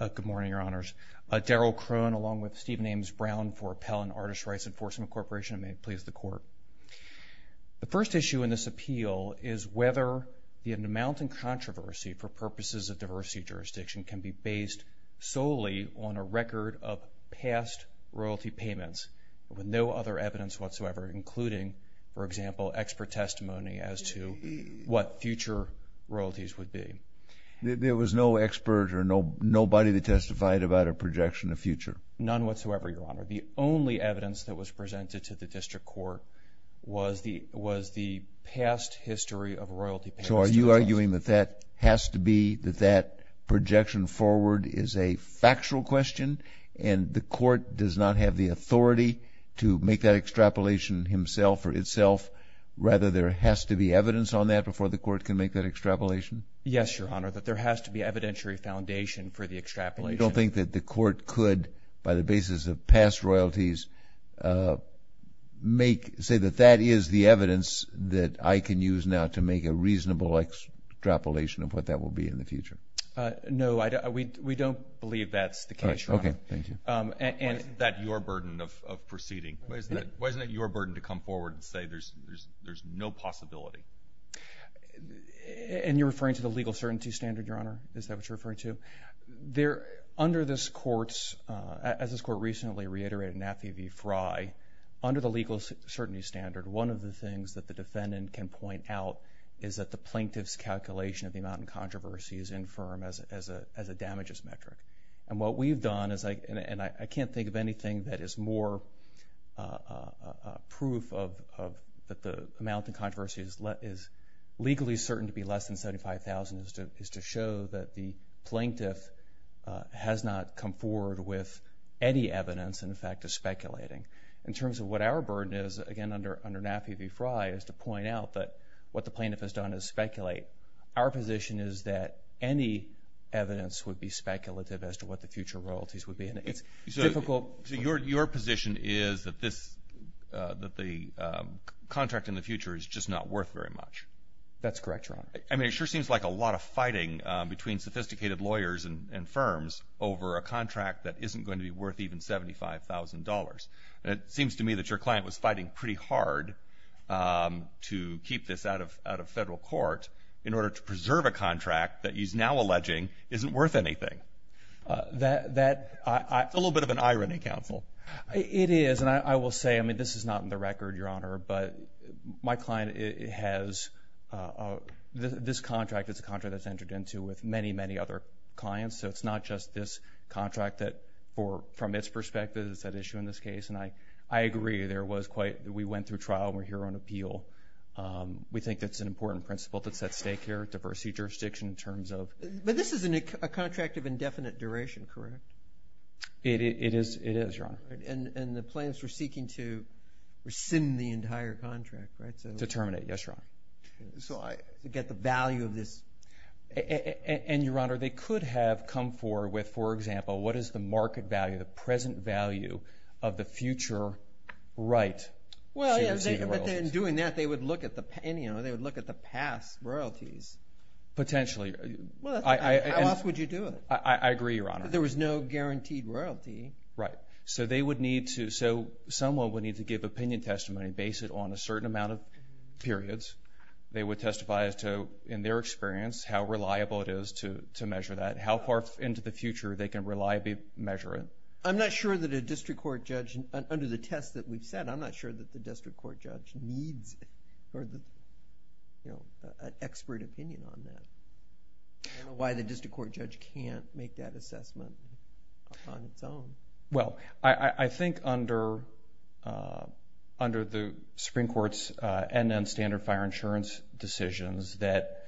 Good morning, Your Honors. Daryl Krohn along with Stephen Ames Brown for Appellant Artists Rights Enforcement Corporation and may it please the Court. The first issue in this appeal is whether the amount in controversy for purposes of diversity jurisdiction can be based solely on a record of past royalty payments with no other evidence whatsoever including, for example, expert testimony as to what future royalties would be. There was no expert or nobody that testified about a projection of future? None whatsoever, Your Honor. The only evidence that was presented to the District Court was the past history of royalty payments. So are you arguing that that has to be, that that projection forward is a factual question and the Court does not have the authority to make that extrapolation himself or itself? Rather there has to be evidence on that before the Court can make that extrapolation? Yes, Your Honor, that there has to be evidentiary foundation for the extrapolation. You don't think that the Court could, by the basis of past royalties, make, say that that is the evidence that I can use now to make a reasonable extrapolation of what that will be in the future? No, we don't believe that's the case, Your Honor. Okay, thank you. Why isn't that your burden of proceeding? Why isn't it your burden to come forward and say there's no possibility? And you're referring to the legal certainty standard, Your Honor? Is that what you're referring to? There, under this Court's, as this Court recently reiterated in AFI v. Frye, under the legal certainty standard, one of the things that the defendant can point out is that the plaintiff's calculation of the amount in controversy is infirm as a damages metric. And what we've done, and I can't think of anything that is more proof that the amount in controversy is legally certain to be less than $75,000 is to show that the plaintiff has not come forward with any evidence and, in fact, is speculating. In terms of what our burden is, again, under AFI v. Frye, is to point out that what the plaintiff has done is speculate. Our position is that any evidence would be speculative as to what the future royalties would be, and it's difficult. So your position is that this, that the contract in the future is just not worth very much? That's correct, Your Honor. I mean, it sure seems like a lot of fighting between sophisticated lawyers and firms over a contract that isn't going to be worth even $75,000. And it seems to me that your client was fighting pretty hard to keep this out of federal court in order to preserve a contract that he's now alleging isn't worth anything. That's a little bit of an irony, counsel. It is. And I will say, I mean, this is not in the record, Your Honor, but my client has this contract. It's a contract that's entered into with many, many other clients. So it's not just this contract that, from its perspective, is at issue in this case. And I agree. There was quite – we went through trial. We're here on appeal. We think that's an important principle that's at stake here, diversity, jurisdiction in terms of – But this is a contract of indefinite duration, correct? It is, Your Honor. And the plaintiffs were seeking to rescind the entire contract, right? To terminate, yes, Your Honor. So to get the value of this. And, Your Honor, they could have come forward with, for example, what is the market value, the present value of the future right to receive royalties. Well, yeah, but in doing that, they would look at the past royalties. Potentially. How else would you do it? I agree, Your Honor. There was no guaranteed royalty. Right. So they would need to – so someone would need to give opinion testimony based on a certain amount of periods. They would testify as to, in their experience, how reliable it is to measure that, how far into the future they can reliably measure it. I'm not sure that a district court judge – under the test that we've set, I'm not sure that the district court judge needs an expert opinion on that. I don't know why the district court judge can't make that assessment on its own. Well, I think under the Supreme Court's end-to-end standard fire insurance decisions that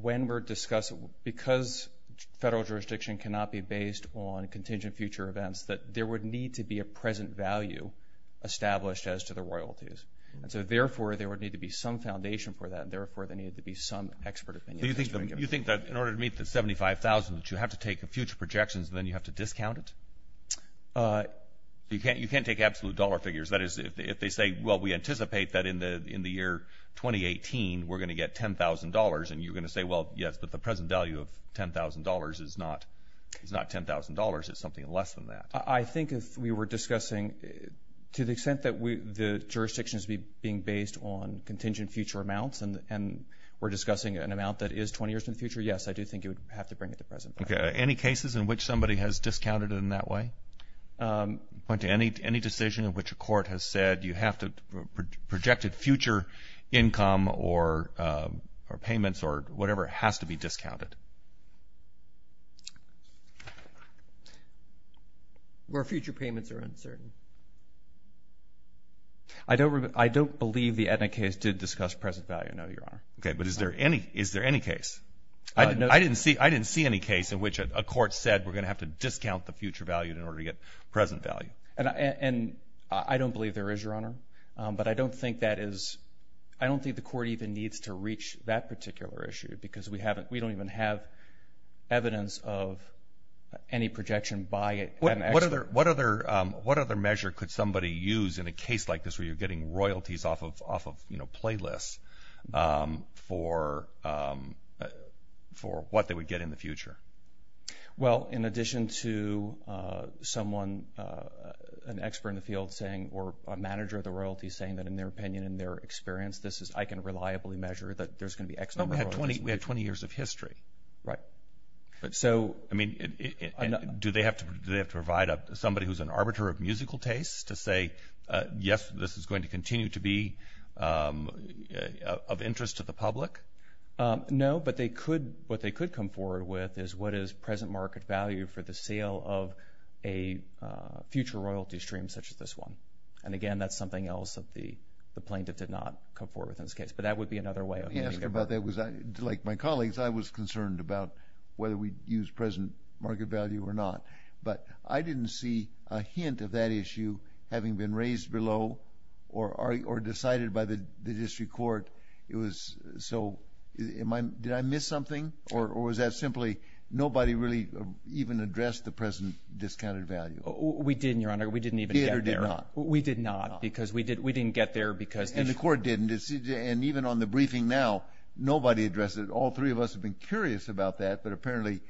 when we're discussing – because federal jurisdiction cannot be based on contingent future events, that there would need to be a present value established as to the royalties. And so, therefore, there would need to be some foundation for that, and, therefore, there needed to be some expert opinion. Do you think that in order to meet the $75,000 that you have to take future projections and then you have to discount it? You can't take absolute dollar figures. That is, if they say, well, we anticipate that in the year 2018 we're going to get $10,000, and you're going to say, well, yes, but the present value of $10,000 is not $10,000. It's something less than that. I think if we were discussing to the extent that the jurisdiction is being based on contingent future amounts and we're discussing an amount that is 20 years in the future, yes, I do think you would have to bring it to present value. Any cases in which somebody has discounted it in that way? Point to any decision in which a court has said you have to – projected future income or payments or whatever has to be discounted. Where future payments are uncertain. I don't believe the Aetna case did discuss present value, no, Your Honor. Okay, but is there any case? I didn't see any case in which a court said we're going to have to discount the future value in order to get present value. And I don't believe there is, Your Honor, but I don't think that is – we don't even have evidence of any projection by an expert. What other measure could somebody use in a case like this where you're getting royalties off of, you know, playlists for what they would get in the future? Well, in addition to someone, an expert in the field saying or a manager of the royalty saying that in their opinion, in their experience, this is – I can reliably measure that there's going to be X number of royalties. We had 20 years of history. Right. I mean, do they have to provide somebody who's an arbiter of musical tastes to say, yes, this is going to continue to be of interest to the public? No, but they could – what they could come forward with is what is present market value for the sale of a future royalty stream such as this one. And, again, that's something else that the plaintiff did not come forward with in this case. But that would be another way of looking at it. Let me ask you about that. Like my colleagues, I was concerned about whether we'd use present market value or not. But I didn't see a hint of that issue having been raised below or decided by the district court. It was – so did I miss something or was that simply nobody really even addressed the present discounted value? We didn't, Your Honor. We didn't even get there. We did not because we didn't get there because – And the court didn't. And even on the briefing now, nobody addressed it. All three of us have been curious about that, but apparently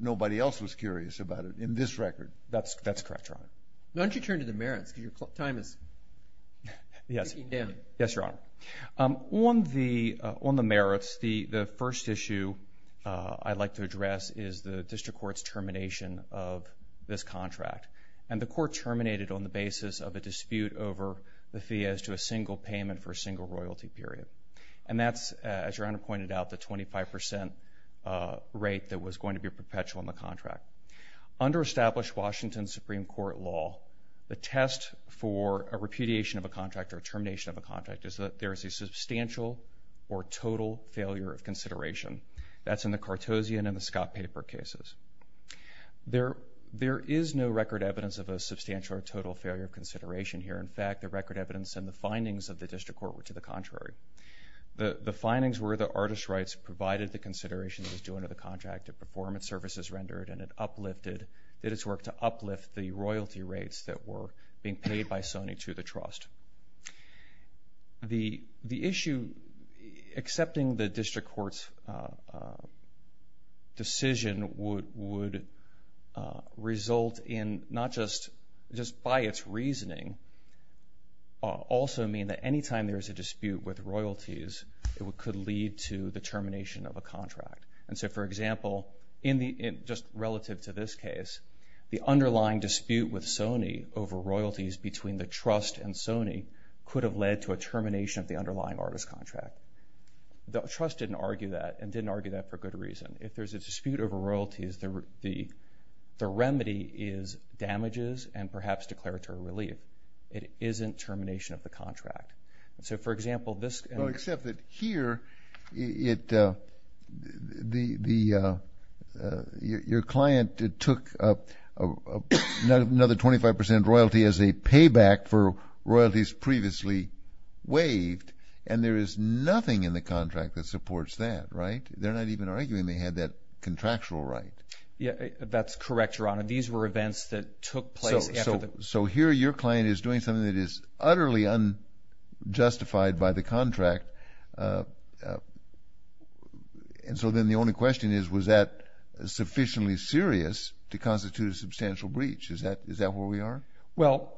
nobody else was curious about it in this record. That's correct, Your Honor. Why don't you turn to the merits because your time is ticking down. Yes, Your Honor. On the merits, the first issue I'd like to address is the district court's termination of this contract. And the court terminated on the basis of a dispute over the fee as to a single payment for a single royalty period. And that's, as Your Honor pointed out, the 25 percent rate that was going to be perpetual in the contract. Under established Washington Supreme Court law, the test for a repudiation of a contract or termination of a contract is that there is a substantial or total failure of consideration. That's in the Cartosian and the Scott-Paper cases. There is no record evidence of a substantial or total failure of consideration here. In fact, the record evidence and the findings of the district court were to the contrary. The findings were the artist's rights provided the consideration that was due under the contract, the performance services rendered, and it uplifted – that it's worked to uplift the royalty rates that were being paid by Sony to the trust. The issue – accepting the district court's decision would result in not just – just by its reasoning also mean that any time there is a dispute with royalties, it could lead to the termination of a contract. And so, for example, in the – just relative to this case, the underlying dispute with Sony over royalties between the trust and Sony could have led to a termination of the underlying artist contract. The trust didn't argue that and didn't argue that for good reason. If there's a dispute over royalties, the remedy is damages and perhaps declaratory relief. It isn't termination of the contract. And so, for example, this – Except that here it – the – your client took another 25 percent royalty as a payback for royalties previously waived, and there is nothing in the contract that supports that, right? They're not even arguing they had that contractual right. Yeah, that's correct, Your Honor. These were events that took place after the – And so then the only question is, was that sufficiently serious to constitute a substantial breach? Is that where we are? Well,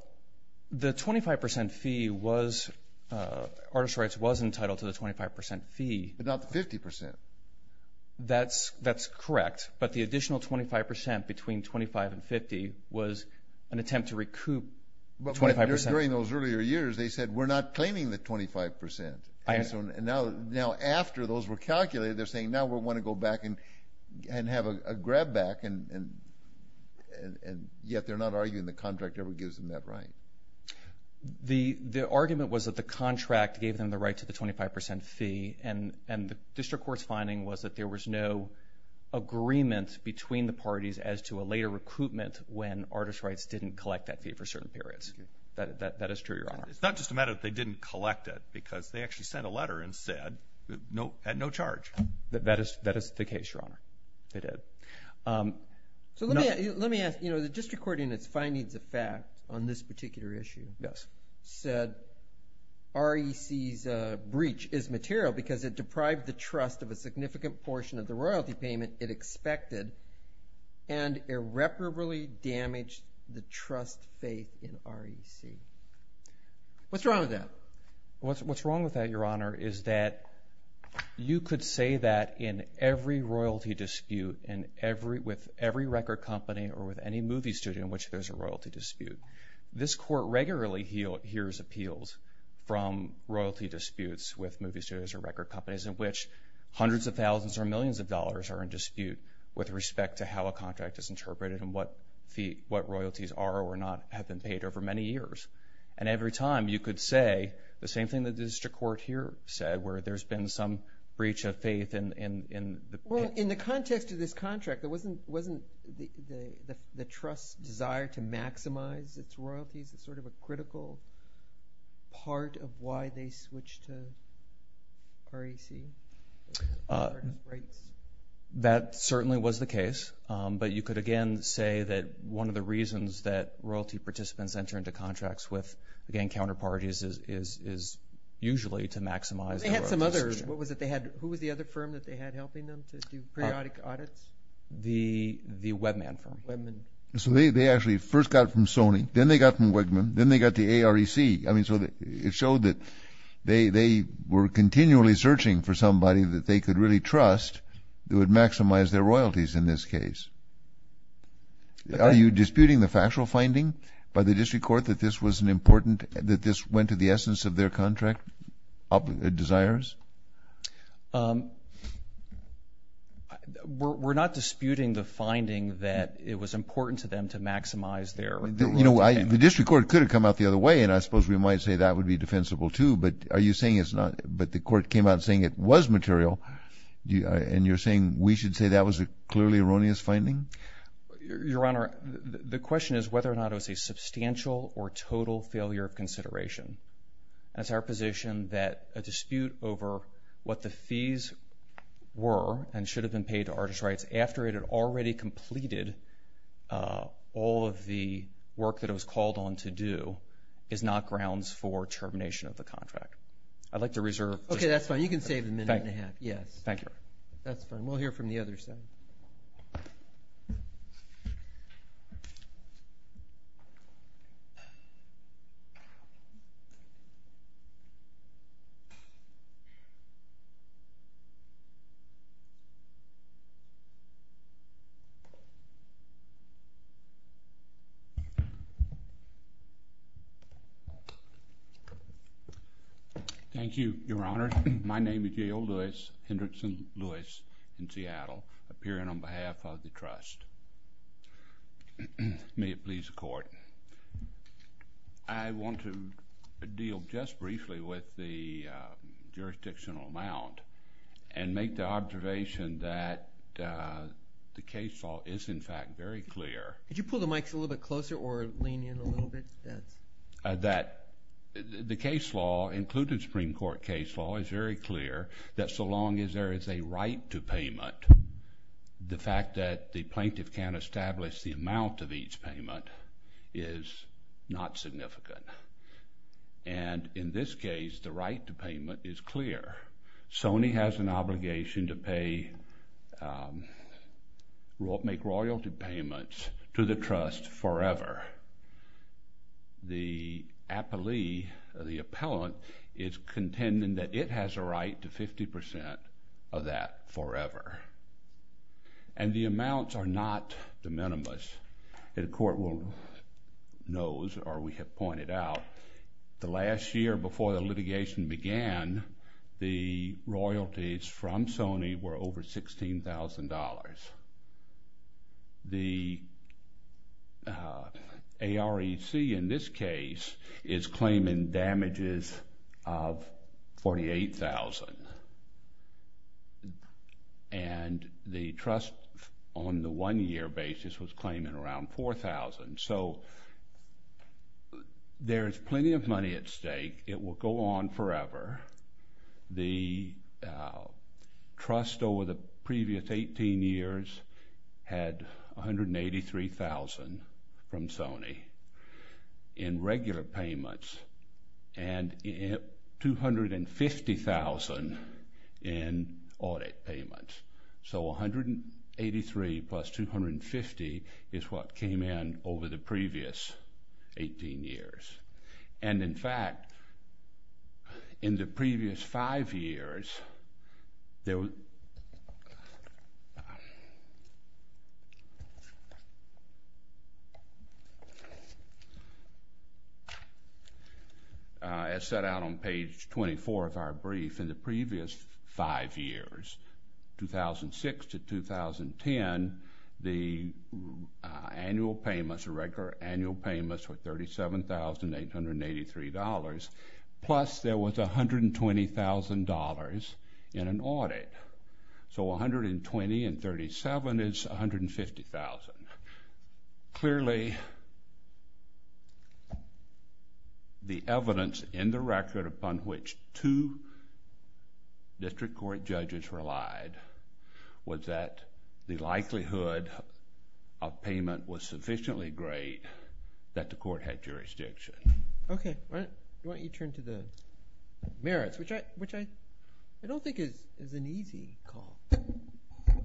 the 25 percent fee was – artist rights was entitled to the 25 percent fee. But not the 50 percent. That's correct. But the additional 25 percent between 25 and 50 was an attempt to recoup 25 percent. But during those earlier years, they said, We're not claiming the 25 percent. And so now after those were calculated, they're saying, Now we want to go back and have a grab back, and yet they're not arguing the contract ever gives them that right. The argument was that the contract gave them the right to the 25 percent fee, and the district court's finding was that there was no agreement between the parties as to a later recoupment when artist rights didn't collect that fee for certain periods. That is true, Your Honor. It's not just a matter that they didn't collect it, because they actually sent a letter and said at no charge. That is the case, Your Honor. They did. So let me ask – the district court in its findings of fact on this particular issue said REC's breach is material because it deprived the trust of a significant portion of the royalty payment it expected and irreparably damaged the trust faith in REC. What's wrong with that? What's wrong with that, Your Honor, is that you could say that in every royalty dispute with every record company or with any movie studio in which there's a royalty dispute. This court regularly hears appeals from royalty disputes with movie studios or record companies in which hundreds of thousands or millions of dollars are in dispute with respect to how a contract is interpreted and what royalties are or not have been paid over many years. And every time you could say the same thing that the district court here said where there's been some breach of faith in the – Well, in the context of this contract, wasn't the trust's desire to maximize its royalties sort of a critical part of why they switched to REC? That certainly was the case. But you could again say that one of the reasons that royalty participants enter into contracts with, again, counterparties is usually to maximize their royalties. They had some others. What was it they had? Who was the other firm that they had helping them to do periodic audits? The Webman firm. Webman. So they actually first got from Sony. Then they got from Webman. Then they got the AREC. I mean, so it showed that they were continually searching for somebody that they could really trust that would maximize their royalties in this case. Are you disputing the factual finding by the district court that this was an important – that this went to the essence of their contract desires? We're not disputing the finding that it was important to them to maximize their royalties. The district court could have come out the other way, and I suppose we might say that would be defensible, too. But are you saying it's not – but the court came out saying it was material, and you're saying we should say that was a clearly erroneous finding? Your Honor, the question is whether or not it was a substantial or total failure of consideration. It's our position that a dispute over what the fees were and should have been paid to artist rights after it had already completed all of the work that it was called on to do is not grounds for termination of the contract. I'd like to reserve – Okay, that's fine. You can save the minute and a half. Thank you, Your Honor. That's fine. We'll hear from the other side. Thank you. Thank you, Your Honor. My name is Yale Lewis, Hendrickson Lewis in Seattle, appearing on behalf of the trust. May it please the court. I want to deal just briefly with the jurisdictional amount and make the observation that the case law is, in fact, very clear. Could you pull the mics a little bit closer or lean in a little bit? That the case law, including Supreme Court case law, is very clear that so long as there is a right to payment, the fact that the plaintiff can't establish the amount of each payment is not significant. And in this case, the right to payment is clear. Sony has an obligation to make royalty payments to the trust forever. The appellee, the appellant, is contending that it has a right to 50% of that forever. And the amounts are not de minimis. The court knows or we have pointed out the last year before the litigation began, the royalties from Sony were over $16,000. The AREC in this case is claiming damages of $48,000. And the trust on the one-year basis was claiming around $4,000. So there is plenty of money at stake. It will go on forever. The trust over the previous 18 years had $183,000 from Sony in regular payments and $250,000 in audit payments. So $183,000 plus $250,000 is what came in over the previous 18 years. And, in fact, in the previous five years, as set out on page 24 of our brief, in the previous five years, 2006 to 2010, the annual payments, the regular annual payments were $37,883, plus there was $120,000 in an audit. So $120,000 and $37,000 is $150,000. Clearly, the evidence in the record upon which two district court judges relied was that the likelihood of payment was sufficiently great that the court had jurisdiction. Okay. Why don't you turn to the merits, which I don't think is an easy call.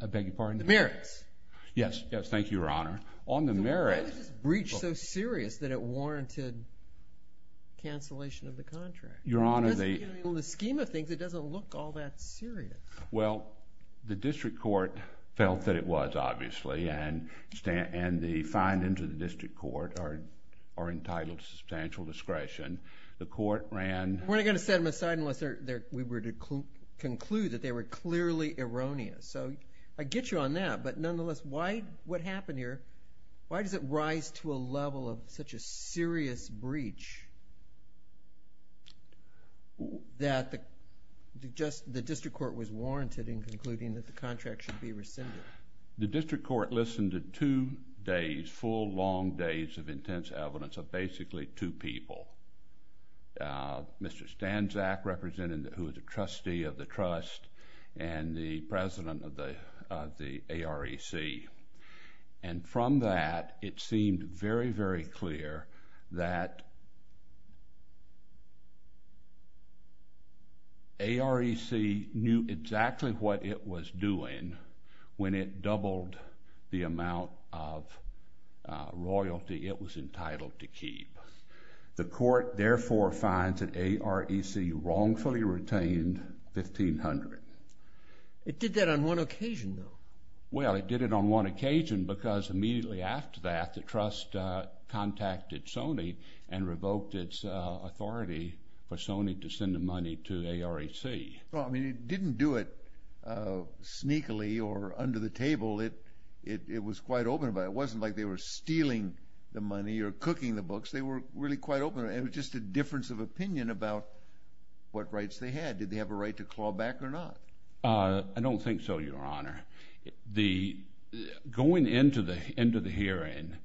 I beg your pardon? The merits. Yes. Yes. Thank you, Your Honor. On the merits— Why is this breach so serious that it warranted cancellation of the contract? Your Honor, the— In the scheme of things, it doesn't look all that serious. Well, the district court felt that it was, obviously, and the findings of the district court are entitled to substantial discretion. The court ran— We're not going to set them aside unless we were to conclude that they were clearly erroneous. So I get you on that, but nonetheless, what happened here, why does it rise to a level of such a serious breach that the district court was warranted in concluding that the contract should be rescinded? The district court listened to two days, full, long days of intense evidence of basically two people, Mr. Stanczak, who was a trustee of the trust, and the president of the AREC. And from that, it seemed very, very clear that AREC knew exactly what it was doing when it doubled the amount of royalty it was entitled to keep. The court, therefore, finds that AREC wrongfully retained $1,500. It did that on one occasion, though. Well, it did it on one occasion because immediately after that, the trust contacted Sony and revoked its authority for Sony to send the money to AREC. Well, I mean, it didn't do it sneakily or under the table. It was quite open about it. It wasn't like they were stealing the money or cooking the books. They were really quite open, and it was just a difference of opinion about what rights they had. Did they have a right to claw back or not? I don't think so, Your Honor. Going into the hearing,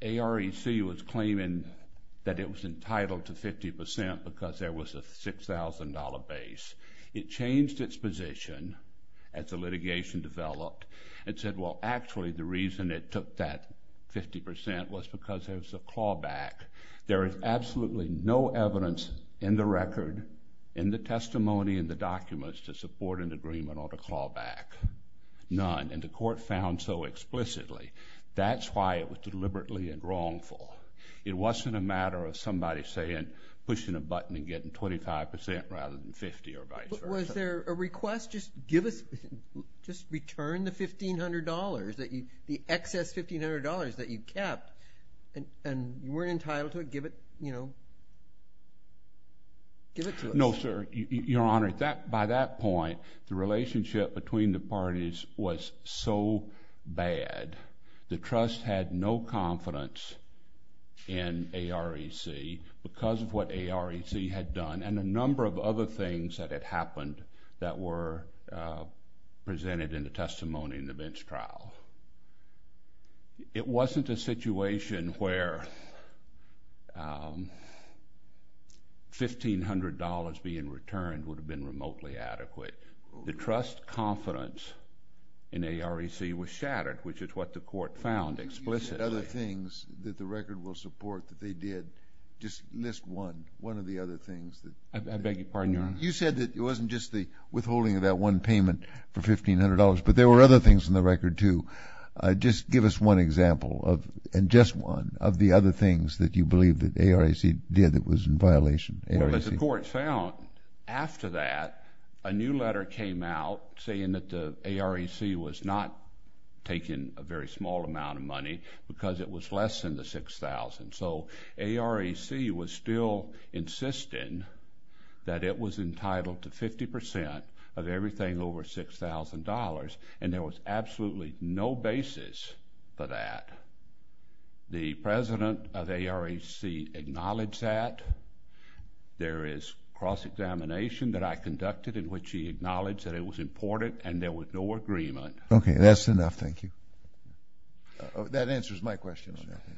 AREC was claiming that it was entitled to 50% because there was a $6,000 base. It changed its position as the litigation developed. It said, well, actually, the reason it took that 50% was because there was a claw back. There is absolutely no evidence in the record, in the testimony, in the documents to support an agreement on a claw back. None, and the court found so explicitly. That's why it was deliberately and wrongful. It wasn't a matter of somebody saying, pushing a button and getting 25% rather than 50 or vice versa. Was there a request, just give us, just return the $1,500, the excess $1,500 that you kept, and you weren't entitled to it, give it, you know, give it to us. No, sir. Your Honor, by that point, the relationship between the parties was so bad, the trust had no confidence in AREC because of what AREC had done and a number of other things that had happened that were presented in the testimony in the bench trial. It wasn't a situation where $1,500 being returned would have been remotely adequate. The trust confidence in AREC was shattered, which is what the court found explicitly. Other things that the record will support that they did, just list one, one of the other things. I beg your pardon, Your Honor. You said that it wasn't just the withholding of that one payment for $1,500, but there were other things in the record too. Just give us one example of, and just one, of the other things that you believe that AREC did that was in violation. Well, as the court found, after that, a new letter came out saying that the AREC was not taking a very small amount of money because it was less than the $6,000. So AREC was still insisting that it was entitled to 50% of everything over $6,000, and there was absolutely no basis for that. The president of AREC acknowledged that. There is cross-examination that I conducted in which he acknowledged that it was important and there was no agreement. Okay, that's enough. Thank you. That answers my question, Your Honor.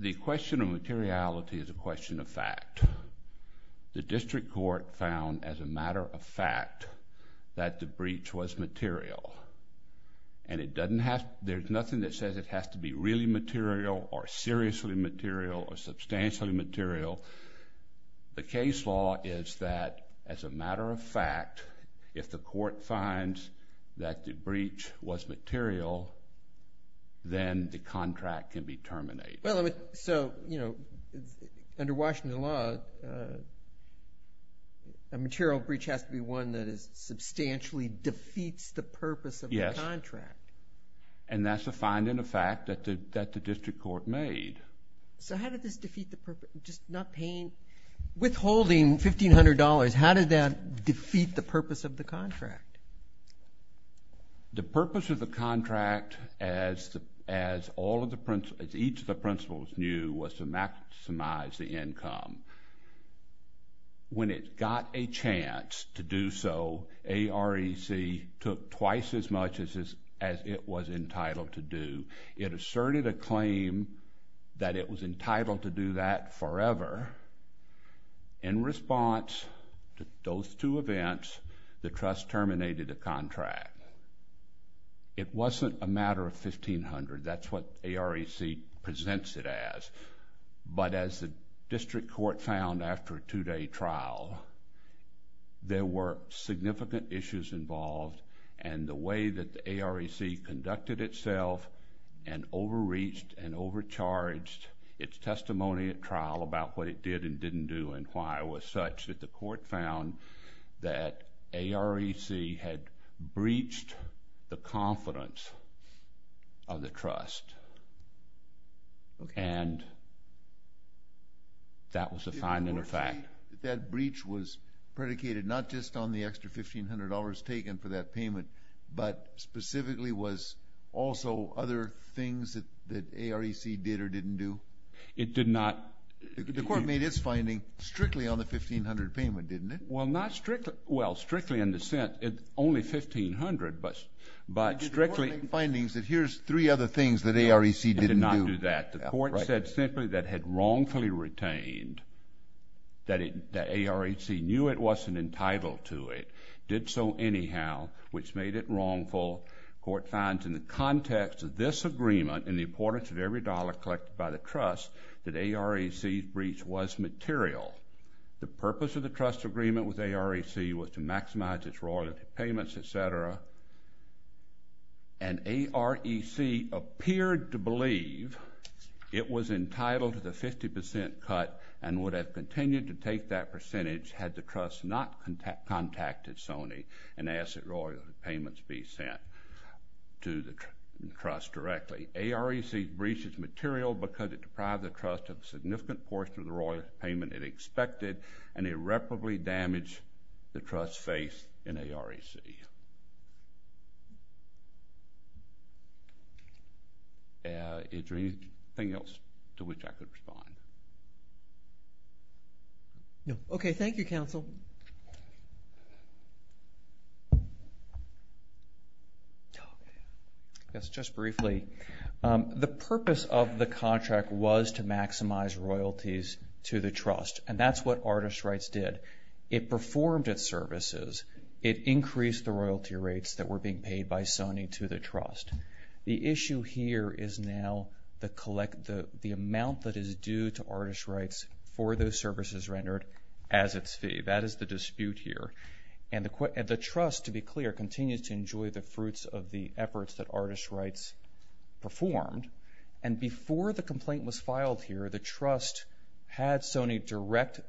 The question of materiality is a question of fact. The district court found as a matter of fact that the breach was material, and it doesn't have, there's nothing that says it has to be really material or seriously material or substantially material. The case law is that as a matter of fact, if the court finds that the breach was material, then the contract can be terminated. Well, so under Washington law, a material breach has to be one that substantially defeats the purpose of the contract. Yes, and that's a finding of fact that the district court made. So how did this defeat the purpose, just not paying, withholding $1,500, how did that defeat the purpose of the contract? The purpose of the contract, as each of the principals knew, was to maximize the income. When it got a chance to do so, AREC took twice as much as it was entitled to do. It asserted a claim that it was entitled to do that forever. In response to those two events, the trust terminated the contract. It wasn't a matter of $1,500. That's what AREC presents it as. But as the district court found after a two-day trial, there were significant issues involved, and the way that the AREC conducted itself and overreached and overcharged its testimony at trial about what it did and didn't do and why it was such that the court found that AREC had breached the confidence of the trust, and that was a finding of fact. The fact that that breach was predicated not just on the extra $1,500 taken for that payment but specifically was also other things that AREC did or didn't do? It did not. The court made its finding strictly on the $1,500 payment, didn't it? Well, not strictly. Well, strictly in the sense it's only $1,500, but strictly. The court made findings that here's three other things that AREC didn't do. It did not do that. The court said simply that it had wrongfully retained that AREC knew it wasn't entitled to it, did so anyhow, which made it wrongful. The court finds in the context of this agreement and the importance of every dollar collected by the trust that AREC's breach was material. The purpose of the trust's agreement with AREC was to maximize its royalty payments, etc., and AREC appeared to believe it was entitled to the 50% cut and would have continued to take that percentage had the trust not contacted Sony and asked that royalty payments be sent to the trust directly. AREC breached its material because it deprived the trust of a significant portion of the royalty payment it expected and irreparably damaged the trust's faith in AREC. Is there anything else to which I could respond? No. Okay, thank you, counsel. Thank you. Just briefly, the purpose of the contract was to maximize royalties to the trust, and that's what Artist Rights did. It performed its services. It increased the royalty rates that were being paid by Sony to the trust. The issue here is now the amount that is due to Artist Rights for those services rendered as its fee. That is the dispute here. The trust, to be clear, continues to enjoy the fruits of the efforts that Artist Rights performed. Before the complaint was filed here, the trust had Sony direct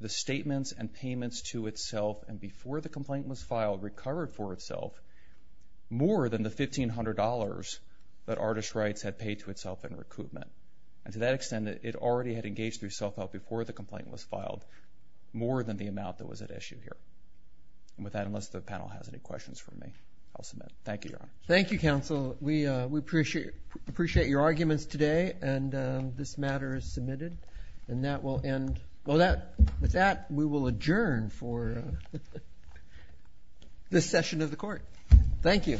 the statements and payments to itself, and before the complaint was filed, recovered for itself more than the $1,500 that Artist Rights had paid to itself in recoupment. To that extent, it already had engaged through self-help before the complaint was filed more than the amount that was at issue here. With that, unless the panel has any questions for me, I'll submit. Thank you, Your Honor. Thank you, counsel. We appreciate your arguments today, and this matter is submitted, and that will end. With that, we will adjourn for this session of the court. Thank you.